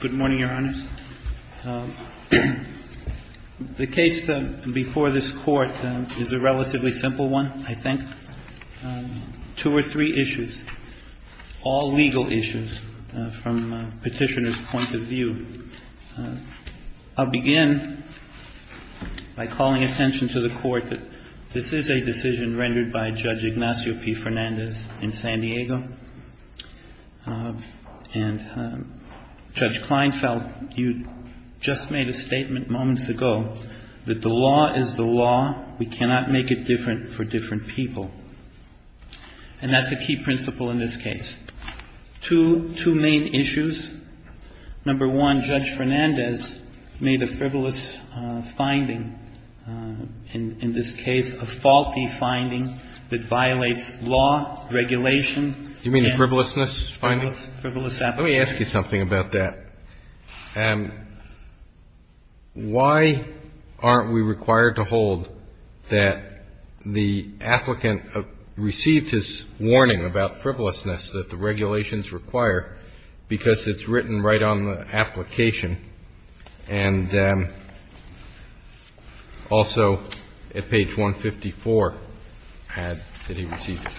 Good morning, Your Honors. The case before this Court is a relatively simple one, I think. Two or three issues, all legal issues, from a petitioner's point of view. I'll begin by calling attention to the Court that this is a decision rendered by Judge Ignacio P. Fernandez in San Diego. And Judge Kleinfeld, you just made a statement moments ago that the law is the law. We cannot make it different for different people. And that's a key principle in this case. Two main issues. Number one, Judge Fernandez made a frivolous finding, in this case a faulty finding that violates law, regulation, and frivolous application. Do you mean the frivolousness finding? Let me ask you something about that. Why aren't we required to hold that the applicant received his warning about frivolousness that the regulations require because it's written right on the application and also at page 154 that he received it?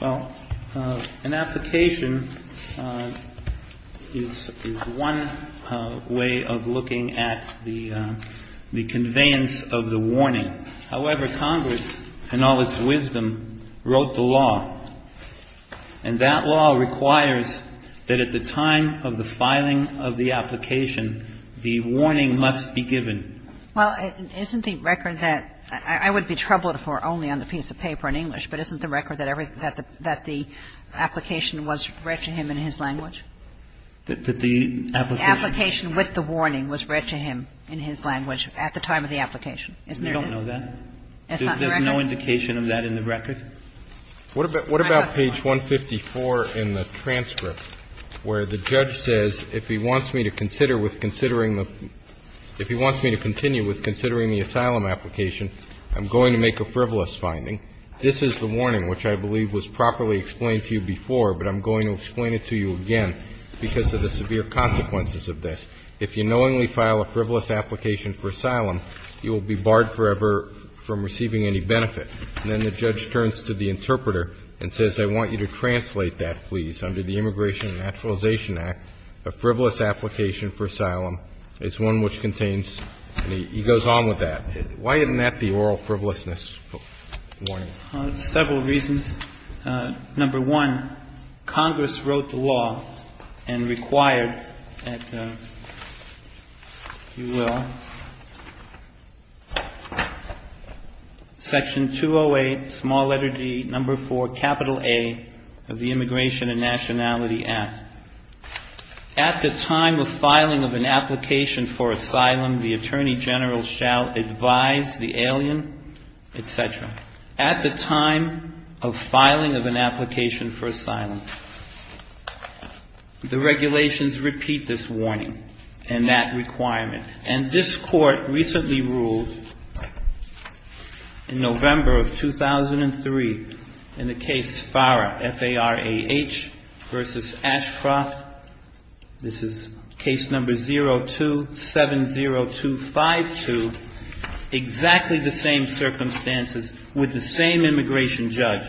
Well, an application is one way of looking at the conveyance of the warning. However, Congress, in all its wisdom, wrote the law. And that law requires that at the time of the filing of the application, the warning must be given. Well, isn't the record that – I would be troubled for only on the piece of paper in English, but isn't the record that the application was read to him in his language? That the application... The application with the warning was read to him in his language at the time of the application, isn't there? I don't know that. There's no indication of that in the record. What about page 154 in the transcript where the judge says if he wants me to consider with considering the – if he wants me to continue with considering the asylum application, I'm going to make a frivolous finding? This is the warning which I believe was properly explained to you before, but I'm going to explain it to you again because of the severe consequences of this. If you knowingly file a frivolous application for asylum, you will be barred forever from receiving any benefit. And then the judge turns to the interpreter and says, I want you to translate that, please, under the Immigration and Naturalization Act, a frivolous application for asylum is one which contains – he goes on with that. Why isn't that the oral frivolousness warning? Well, there's several reasons. Number one, Congress wrote the law and required that – if you will – section 208, small letter D, number 4, capital A of the Immigration and Nationality Act. At the time of filing of an application for asylum, the Attorney General shall advise the alien, et cetera. At the time of filing of an application for asylum, the regulations repeat this warning and that requirement. And this Court recently ruled in November of 2003 in the case FARAH, F-A-R-A-H, v. Ashcroft, this is case number 0270252, exactly the same circumstances with the same immigration judge,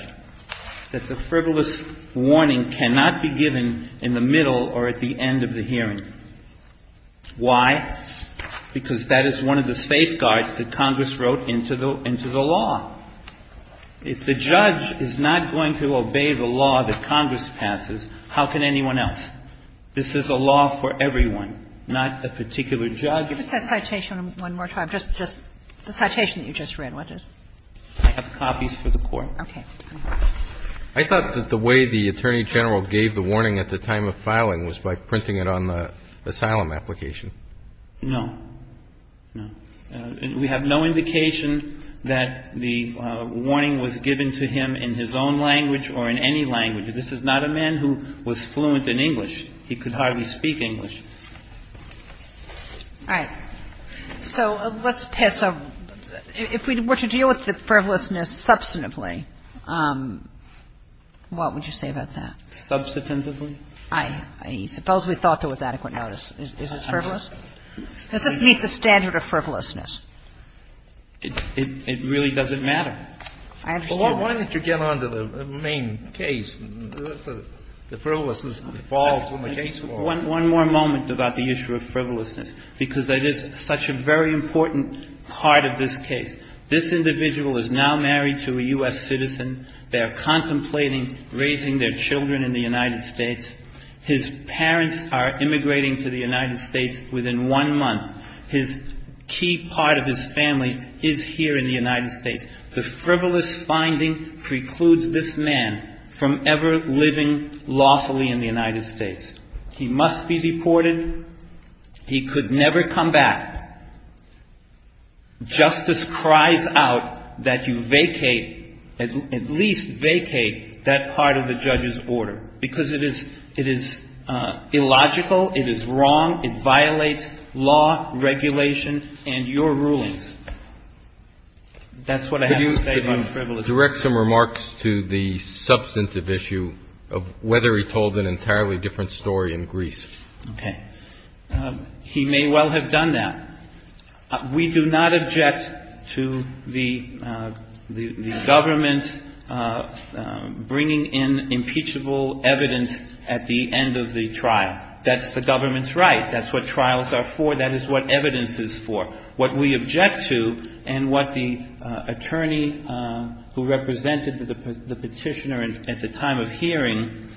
that the frivolous warning cannot be given in the middle or at the end of the hearing. Why? Because that is one of the safeguards that Congress wrote into the law. If the judge is not going to obey the law that Congress passes, how can anyone else? This is a law for everyone, not a particular judge. Just that citation one more time. Just the citation that you just read. What is it? I have copies for the Court. Okay. I thought that the way the Attorney General gave the warning at the time of filing was by printing it on the asylum application. No. No. We have no indication that the warning was given to him in his own language or in any language. This is not a man who was fluent in English. He could hardly speak English. All right. So let's test. If we were to deal with the frivolousness substantively, what would you say about that? Substantively? I suppose we thought it was adequate notice. Is it frivolous? Does this meet the standard of frivolousness? It really doesn't matter. I understand. Why don't you get on to the main case? The frivolousness that falls when the case warrants. One more moment about the issue of frivolousness, because that is such a very important part of this case. This individual is now married to a U.S. citizen. They are contemplating raising their children in the United States. His parents are immigrating to the United States within one month. His key part of his family is here in the United States. The frivolous finding precludes this man from ever living lawfully in the United States. He must be deported. He could never come back. Justice cries out that you vacate, at least vacate that part of the judge's order, because it is illogical, it is wrong, it violates law, regulation, and your rulings. That's what I have to say about frivolousness. Could you direct some remarks to the substantive issue of whether he told an entirely different story in Greece? Okay. He may well have done that. We do not object to the government bringing in impeachable evidence at the end of the trial. That's the government's right. That's what trials are for. That is what evidence is for. What we object to and what the attorney who represented the Petitioner at the time of hearing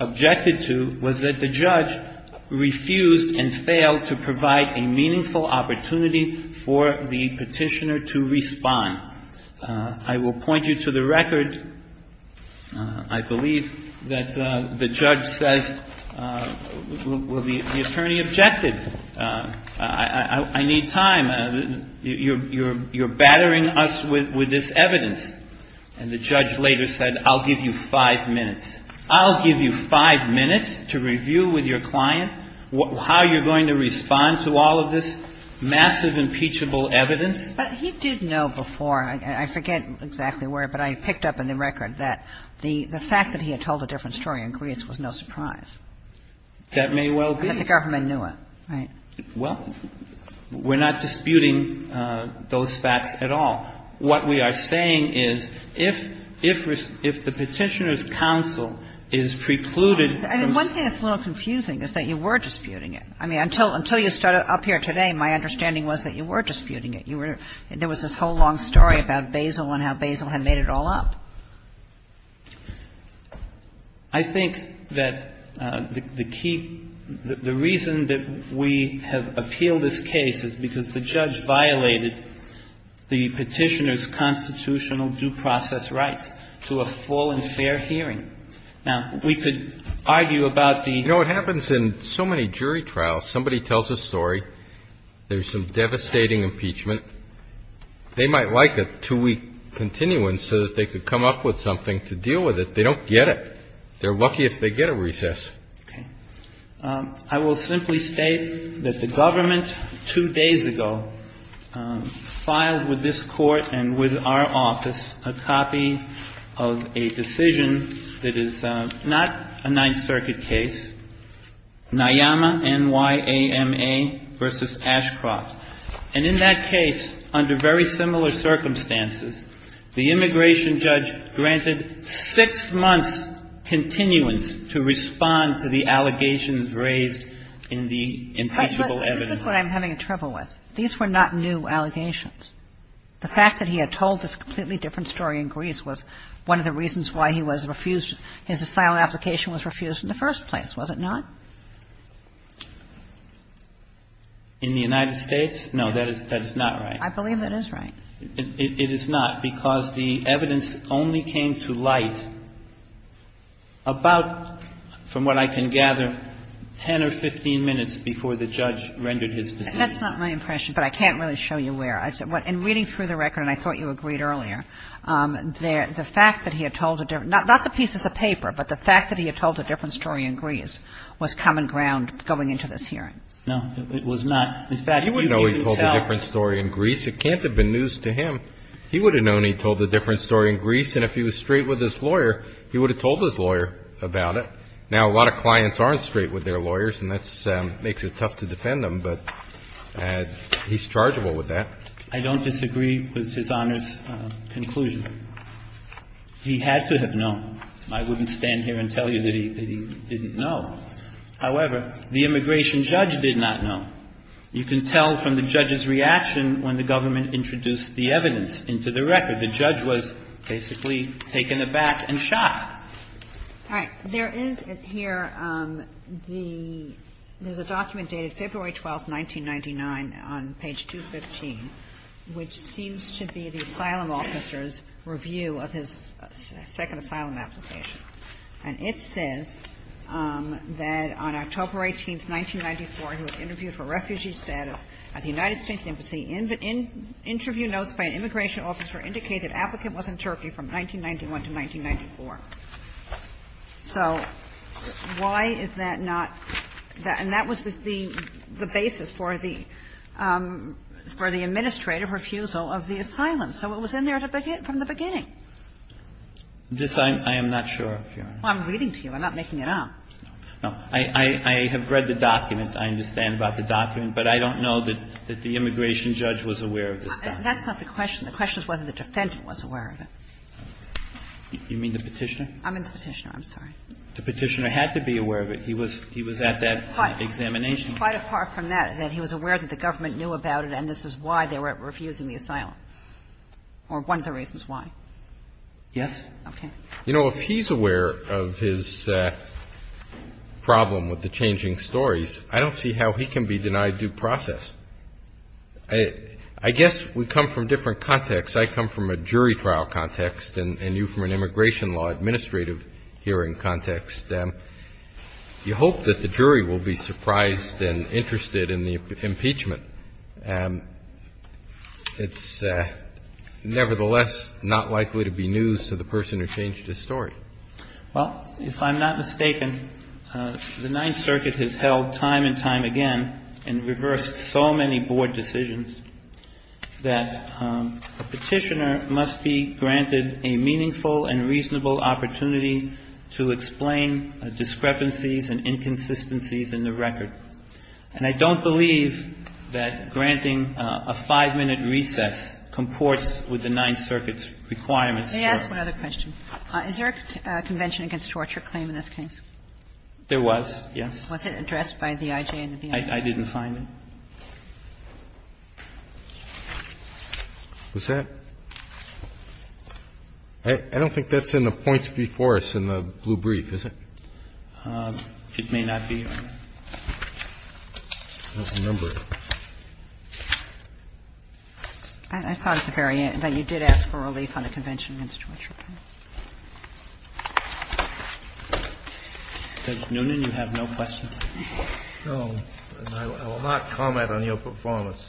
objected to was that the judge refused and failed to provide a meaningful opportunity for the Petitioner to respond. I will point you to the record. I believe that the judge says, well, the attorney objected. I believe I need time. You're battering us with this evidence. And the judge later said, I'll give you five minutes. I'll give you five minutes to review with your client how you're going to respond to all of this massive impeachable evidence. But he did know before. I forget exactly where, but I picked up in the record that the fact that he had told a different story in Greece was no surprise. That may well be. But the government knew it, right? Well, we're not disputing those facts at all. What we are saying is if the Petitioner's counsel is precluded from I mean, one thing that's a little confusing is that you were disputing it. I mean, until you started up here today, my understanding was that you were disputing it. You were – there was this whole long story about Basil and how Basil had made it all up. I think that the key – the reason that we have appealed this case is because the judge violated the Petitioner's constitutional due process rights to a full and fair hearing. Now, we could argue about the You know, it happens in so many jury trials. Somebody tells a story. There's some devastating impeachment. They might like a two-week continuance so that they could come up with something to deal with it. They don't get it. They're lucky if they get a recess. I will simply state that the government two days ago filed with this Court and with our office a copy of a decision that is not a Ninth Circuit case, Nyama, N-y-a-m-a, versus Ashcroft. And in that case, under very similar circumstances, the immigration judge granted six months' continuance to respond to the allegations raised in the impeachable evidence. But this is what I'm having trouble with. These were not new allegations. The fact that he had told this completely different story in Greece was one of the reasons why he was refused – his asylum application was refused in the first place, was it not? In the United States? No, that is not right. I believe it is right. It is not, because the evidence only came to light about, from what I can gather, 10 or 15 minutes before the judge rendered his decision. That's not my impression, but I can't really show you where. In reading through the record, and I thought you agreed earlier, the fact that he had told a – not the case is a paper, but the fact that he had told a different story in Greece was common ground going into this hearing. No, it was not. In fact, he wouldn't even tell – You know he told a different story in Greece. It can't have been news to him. He would have known he told a different story in Greece, and if he was straight with his lawyer, he would have told his lawyer about it. Now, a lot of clients aren't straight with their lawyers, and that makes it tough to defend them, but he's chargeable with that. I don't disagree with His Honor's conclusion. He had to have known. I wouldn't stand here and tell you that he didn't know. However, the immigration judge did not know. You can tell from the judge's reaction when the government introduced the evidence into the record. The judge was basically taken aback and shocked. All right. There is here the – there's a document dated February 12th, 1999, on page 215, which seems to be the asylum officer's review of his second asylum application. And it says that on October 18th, 1994, he was interviewed for refugee status at the United States Embassy. Interview notes by an immigration officer indicate that the applicant was in Turkey from 1991 to 1994. So why is that not – and that was the basis for the – for the administrative refusal of the asylum. So it was in there from the beginning. This, I am not sure, Your Honor. Well, I'm reading to you. I'm not making it up. No. I have read the document. I understand about the document, but I don't know that the immigration judge was aware of this document. That's not the question. The question is whether the defendant was aware of it. You mean the Petitioner? I mean the Petitioner. I'm sorry. The Petitioner had to be aware of it. He was at that examination. Quite apart from that, that he was aware that the government knew about it, and this is why they were refusing the asylum, or one of the reasons why. Yes. Okay. You know, if he's aware of his problem with the changing stories, I don't see how he can be denied due process. I guess we come from different contexts. I come from a jury trial context, and you from an immigration law administrative hearing context. You hope that the jury will be surprised and interested in the impeachment. It's nevertheless not likely to be news to the person who changed his story. Well, if I'm not mistaken, the Ninth Circuit has held time and time again and reversed so many board decisions that a Petitioner must be granted a meaningful and reasonable opportunity to explain discrepancies and inconsistencies in the record. And I don't believe that granting a five-minute recess comports with the Ninth Circuit's requirements. May I ask one other question? Is there a convention against torture claim in this case? There was, yes. Was it addressed by the IJ and the BIA? I didn't find it. Was that? I don't think that's in the points before us in the blue brief, is it? It may not be. I don't remember it. I thought at the very end that you did ask for relief on the convention against torture claim. Judge Noonan, you have no questions? I will not comment on your performance.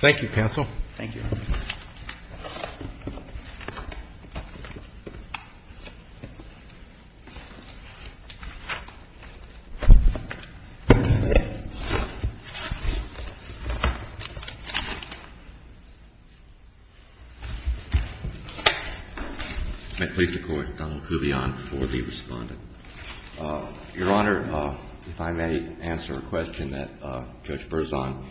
Thank you, counsel. Thank you. May it please the Court, Donald Kuvion for the respondent. Your Honor, if I may answer a question that Judge Berzon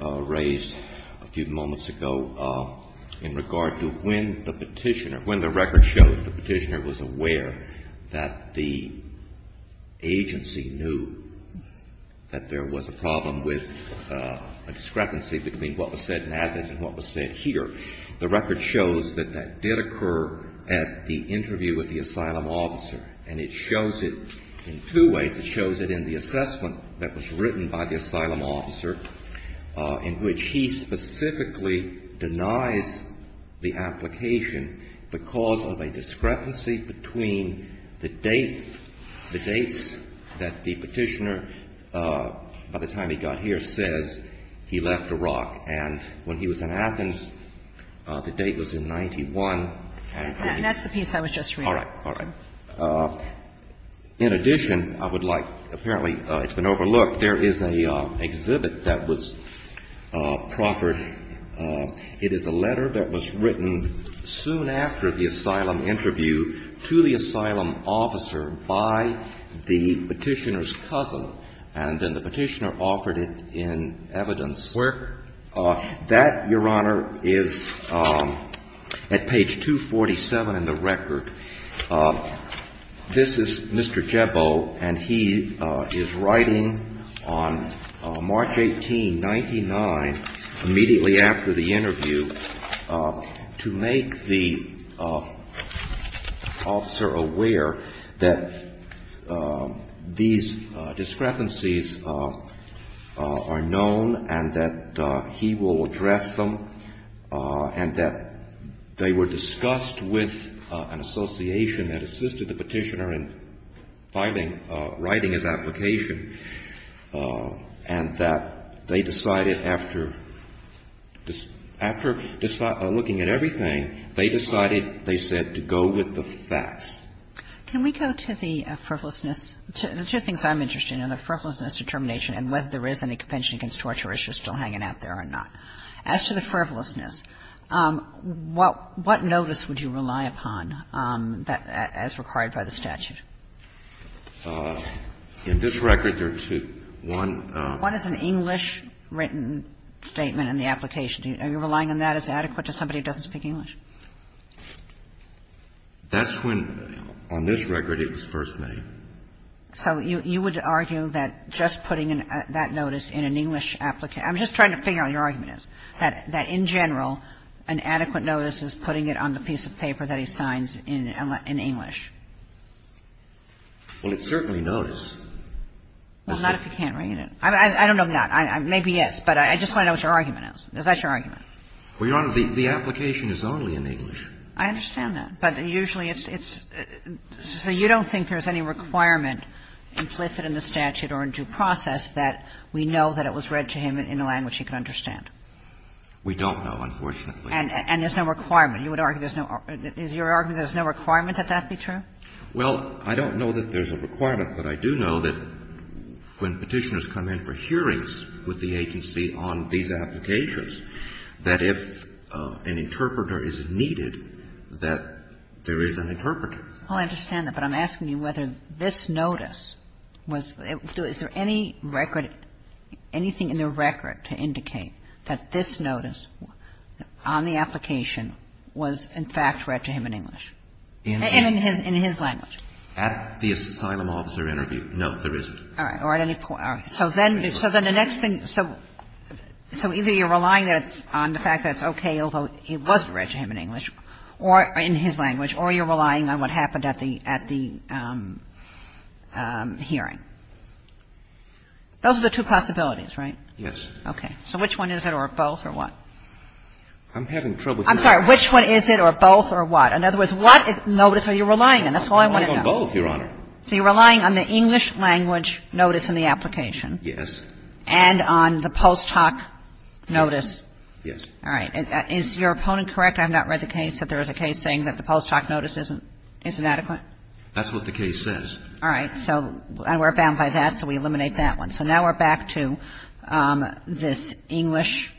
raised a few moments ago in regard to when the Petitioner, when the record shows the Petitioner was aware that the agency knew that there was a problem with a discrepancy between what was said in Athens and what was said here. The record shows that that did occur at the interview with the asylum officer. And it shows it in two ways. It shows it in the assessment that was written by the asylum officer in which he specifically denies the application because of a discrepancy between the date, the dates that the Petitioner, by the time he got here, says he left Iraq. And when he was in Athens, the date was in 91. That's the piece I was just reading. All right. All right. In addition, I would like, apparently it's been overlooked, there is an exhibit that was proffered. It is a letter that was written soon after the asylum interview to the asylum officer by the Petitioner's cousin, and then the Petitioner offered it in evidence. Where? That, Your Honor, is at page 247 in the record. This is Mr. Jebo, and he is writing on March 18, 99, immediately after the interview to make the officer aware that these discrepancies are known and that he will address them, and that they were discussed with an association that assisted the Petitioner in filing, writing his application, and that they decided after, after looking at everything, they decided, they said, to go with the facts. Can we go to the frivolousness? The two things I'm interested in are the frivolousness determination and whether there is any compensation against torture issues still hanging out there or not. As to the frivolousness, what notice would you rely upon as required by the statute? In this record, there are two. One is an English-written statement in the application. Are you relying on that as adequate to somebody who doesn't speak English? That's when, on this record, it was first made. So you would argue that just putting that notice in an English application – I'm just trying to figure out what your argument is – that in general, an adequate notice is putting it on the piece of paper that he signs in English? Well, it certainly knows. Well, not if he can't read it. I don't know if not. Maybe yes. But I just want to know what your argument is. Is that your argument? Well, Your Honor, the application is only in English. I understand that. But usually it's – so you don't think there's any requirement implicit in the statute or in due process that we know that it was read to him in a language he could understand? We don't know, unfortunately. And there's no requirement. You would argue there's no – is your argument there's no requirement that that be true? Well, I don't know that there's a requirement. But I do know that when Petitioners come in for hearings with the agency on these applications, that if an interpreter is needed, that there is an interpreter. Oh, I understand that. But I'm asking you whether this notice was – is there any record, anything in the record to indicate that this notice on the application was in fact read to him in English? In his language. At the asylum officer interview. No, there isn't. All right. So then the next thing – so either you're relying on the fact that it's okay, although it was read to him in English or in his language, or you're relying on what happened at the hearing. Those are the two possibilities, right? Yes. Okay. So which one is it, or both, or what? I'm having trouble here. I'm sorry. Which one is it, or both, or what? In other words, what notice are you relying on? That's all I want to know. I'm relying on both, Your Honor. So you're relying on the English language notice in the application? Yes. And on the post hoc notice? Yes. All right. Is your opponent correct? I have not read the case that there is a case saying that the post hoc notice isn't adequate? That's what the case says. All right. So we're bound by that, so we eliminate that one. So now we're back to this English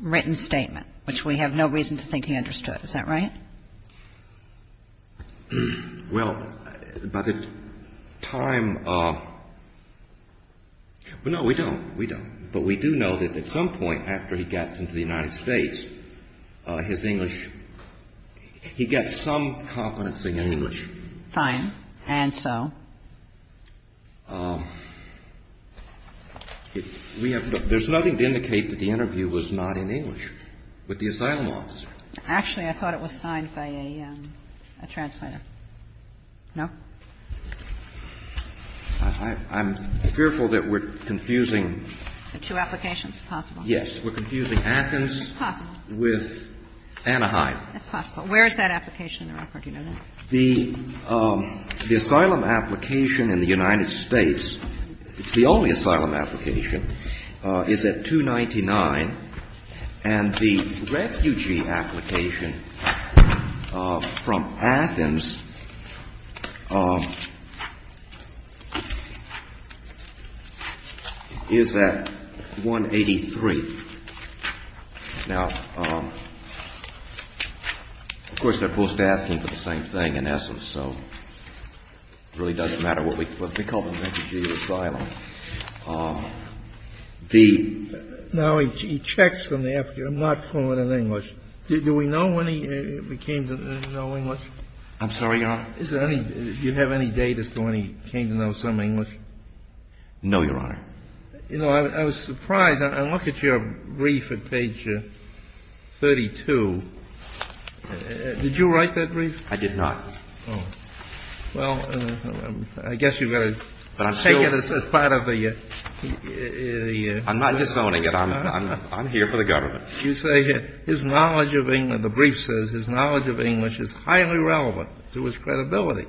written statement, which we have no reason to think he understood. Is that right? Well, by the time – well, no, we don't. We don't. But we do know that at some point after he gets into the United States, his English – he gets some confidence in his English. Fine. And so? We have – there's nothing to indicate that the interview was not in English with the asylum officer. Actually, I thought it was signed by a translator. No? I'm fearful that we're confusing. The two applications? It's possible. Yes. We're confusing Athens with Anaheim. That's possible. Where is that application in the record? Do you know that? The asylum application in the United States – it's the only asylum application – is at 299, and the refugee application from Athens is at 183. Now, of course, they're both asking for the same thing in essence, so it really doesn't matter what we – they call them refugee asylum. Now, he checks on the application. I'm not following in English. Do we know when he came to know English? I'm sorry, Your Honor? Is there any – do you have any data as to when he came to know some English? No, Your Honor. You know, I was surprised. I look at your brief at page 32. Did you write that brief? I did not. Oh. Well, I guess you've got to take it as part of the – I'm not disowning it. I'm here for the government. You say his knowledge of – the brief says his knowledge of English is highly relevant to his credibility.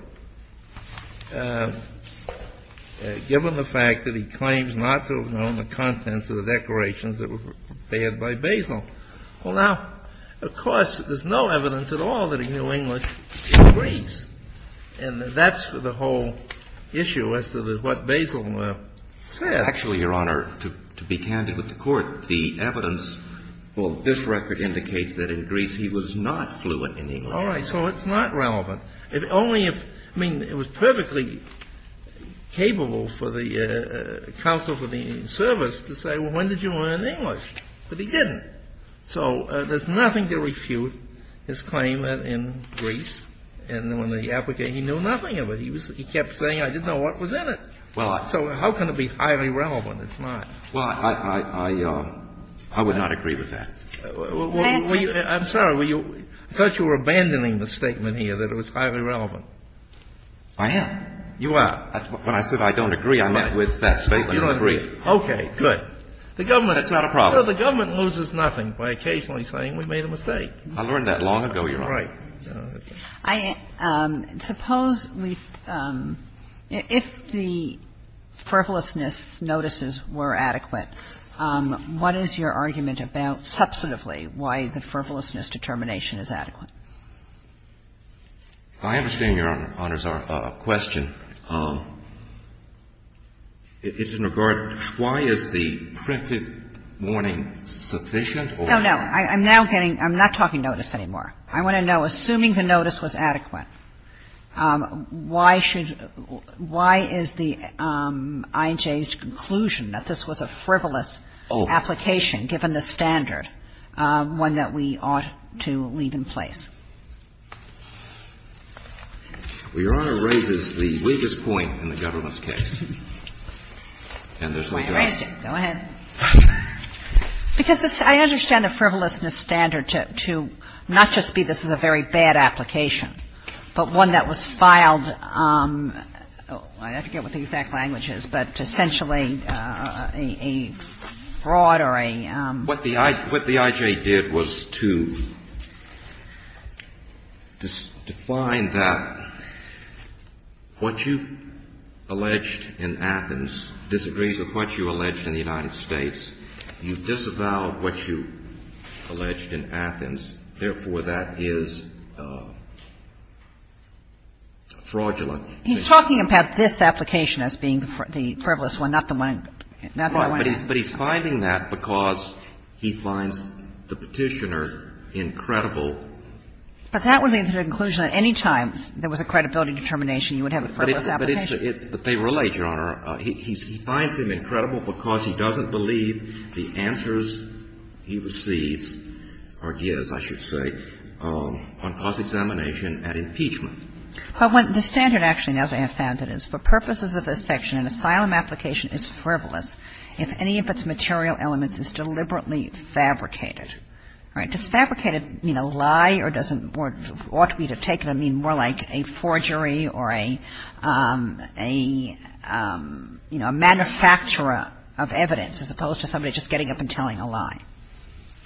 Given the fact that he claims not to have known the contents of the declarations that were prepared by Basil. Well, now, of course, there's no evidence at all that he knew English in Greece, and that's the whole issue as to what Basil said. Actually, Your Honor, to be candid with the Court, the evidence – well, this record indicates that in Greece he was not fluent in English. All right. So it's not relevant. Only if – I mean, it was perfectly capable for the counsel for the service to say, well, when did you learn English? But he didn't. So there's nothing to refute his claim that in Greece and when the – he knew nothing of it. He kept saying, I didn't know what was in it. So how can it be highly relevant? It's not. Well, I would not agree with that. I'm sorry. I thought you were abandoning the statement here that it was highly relevant. I am. You are. When I said I don't agree, I meant with that statement in Greece. You don't agree. Okay, good. That's not a problem. The government loses nothing by occasionally saying we made a mistake. I learned that long ago, Your Honor. Right. Suppose we – if the frivolousness notices were adequate, what is your argument about, substantively, why the frivolousness determination is adequate? I understand, Your Honor's question. It's in regard to why is the printed warning sufficient or not? No, no. I'm now getting – I'm not talking notice anymore. I want to know, assuming the notice was adequate, why should – why is the IJ's conclusion that this was a frivolous application, given the standard, one that we ought to leave in place? Well, Your Honor raises the weakest point in the government's case. And there's no doubt. I raised it. Go ahead. Because I understand a frivolousness standard to not just be this is a very bad application, but one that was filed – I forget what the exact language is, but essentially a fraud or a – What the IJ did was to define that what you alleged in Athens disagrees with what you alleged in the United States. And so the IJ's conclusion is, therefore, that is fraudulent. He's talking about this application as being the frivolous one, not the one – not the one in Athens. Right. But he's finding that because he finds the Petitioner incredible. But that would lead to the conclusion that any time there was a credibility determination, you would have a frivolous application? But it's – but they relate, Your Honor. He finds him incredible because he doesn't believe the answers he receives or gives, I should say, on cause examination at impeachment. Well, the standard actually, as I have found it, is for purposes of this section, an asylum application is frivolous if any of its material elements is deliberately fabricated. All right. Does fabricated mean a lie or does it more – ought we to take it and mean more like a forgery or a, you know, a manufacturer of evidence as opposed to somebody just getting up and telling a lie?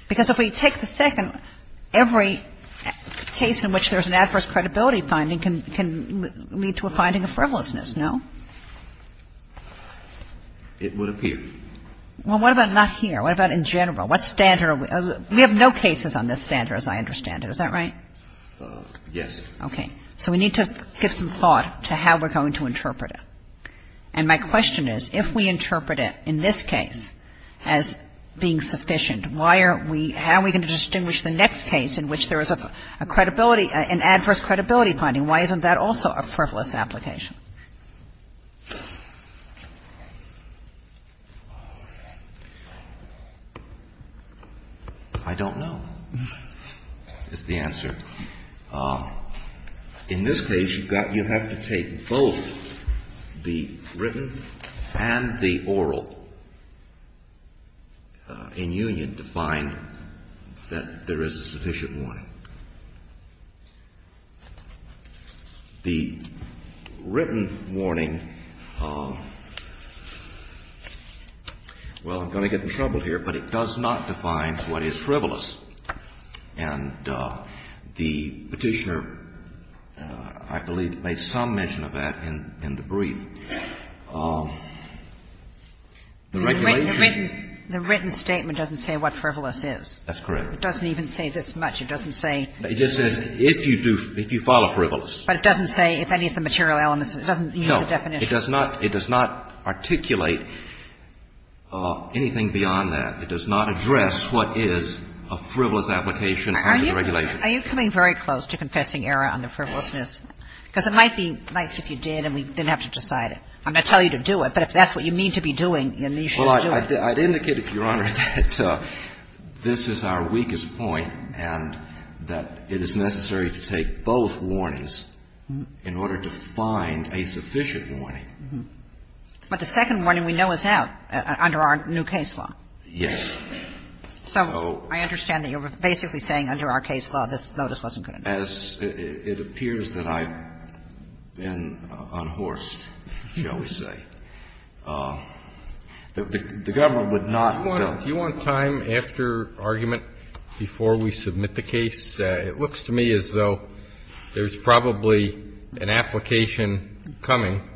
Because if we take the second, every case in which there's an adverse credibility finding can lead to a finding of frivolousness, no? It would appear. Well, what about not here? What about in general? What standard – we have no cases on this standard, as I understand it. Is that right? Yes. Okay. So we need to give some thought to how we're going to interpret it. And my question is, if we interpret it in this case as being sufficient, why are we – how are we going to distinguish the next case in which there is a credibility – an adverse credibility finding? Why isn't that also a frivolous application? I don't know is the answer. In this case, you've got – you have to take both the written and the oral in union to find that there is a sufficient warning. The written warning – well, I'm going to get in trouble here, but it does not define what is frivolous. And the Petitioner, I believe, made some mention of that in the brief. The regulation – The written statement doesn't say what frivolous is. That's correct. It doesn't even say this much. It doesn't say – It just says if you do – if you follow frivolous. But it doesn't say if any of the material elements – it doesn't use the definition. It does not – it does not articulate anything beyond that. It does not address what is a frivolous application under the regulation. Are you coming very close to confessing error under frivolousness? Because it might be nice if you did and we didn't have to decide it. I'm going to tell you to do it, but if that's what you mean to be doing, then you should do it. Well, I'd indicate, Your Honor, that this is our weakest point and that it is necessary to take both warnings in order to find a sufficient warning. But the second warning we know is out under our new case law. Yes. So I understand that you're basically saying under our case law, this notice wasn't going to be there. As it appears that I've been unhorsed, shall we say. The government would not – Do you want time after argument before we submit the case? It looks to me as though there's probably an application coming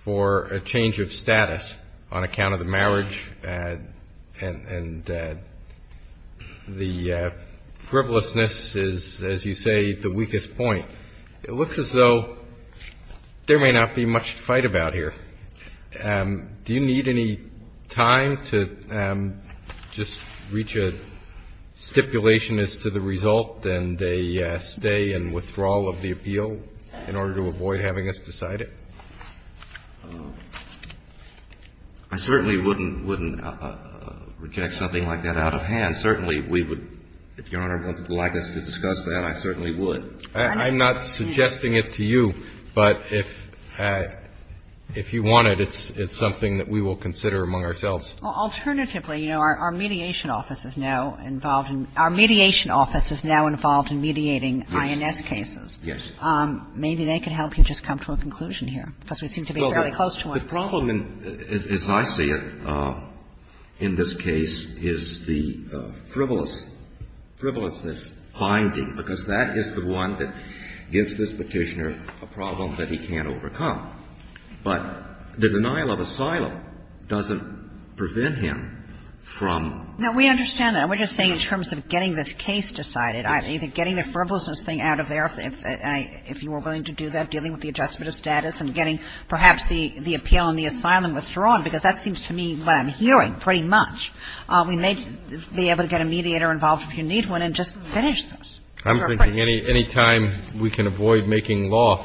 for a change of status on account of the marriage and the frivolousness is, as you say, the weakest point. It looks as though there may not be much to fight about here. Do you need any time to just reach a stipulation as to the result and a stay and withdrawal of the appeal in order to avoid having us decide it? I certainly wouldn't reject something like that out of hand. Certainly we would, if Your Honor would like us to discuss that, I certainly would. I'm not suggesting it to you, but if you want it, it's something that we will consider among ourselves. Alternatively, you know, our mediation office is now involved in – our mediation office is now involved in mediating INS cases. Yes. Maybe they could help you just come to a conclusion here, because we seem to be fairly close to one. The problem, as I see it, in this case, is the frivolousness finding, because that is the one that gives this Petitioner a problem that he can't overcome. But the denial of asylum doesn't prevent him from – No, we understand that. We're just saying in terms of getting this case decided, either getting the frivolousness thing out of there, if you were willing to do that, dealing with the adjustment of status and getting perhaps the appeal and the asylum withdrawn, because that seems to me what I'm hearing pretty much. We may be able to get a mediator involved if you need one and just finish this. I'm thinking any time we can avoid making law,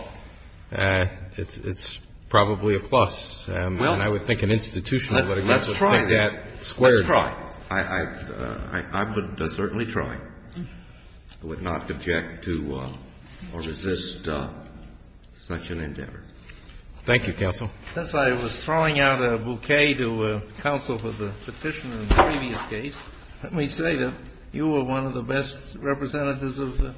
it's probably a plus. And I would think an institution would be able to take that squarely. Let's try. I would certainly try. I would not object to or resist such an endeavor. Thank you, counsel. Since I was throwing out a bouquet to counsel for the Petitioner in the previous case, let me say that you were one of the best representatives of the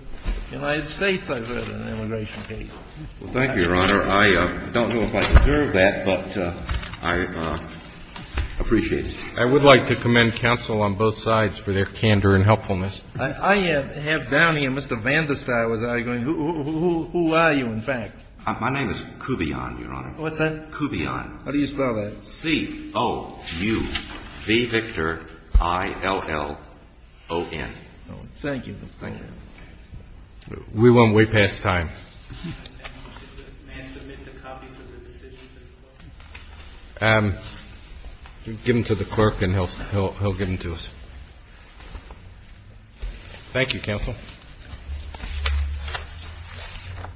United States I've heard in an immigration case. Well, thank you, Your Honor. I don't know if I deserve that, but I appreciate it. I would like to commend counsel on both sides for their candor and helpfulness. I have down here Mr. Vandestein was arguing. Who are you, in fact? My name is Kubion, Your Honor. What's that? Kubion. How do you spell that? C-O-U-V, Victor, I-L-L-O-N. Thank you. Thank you. We went way past time. May I submit the copies of the decisions as well? Give them to the clerk and he'll get them to us. Thank you, counsel.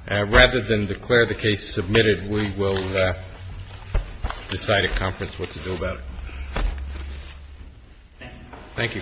Rather than declare the case submitted, we will decide at conference what to do about it. Thank you, counsel.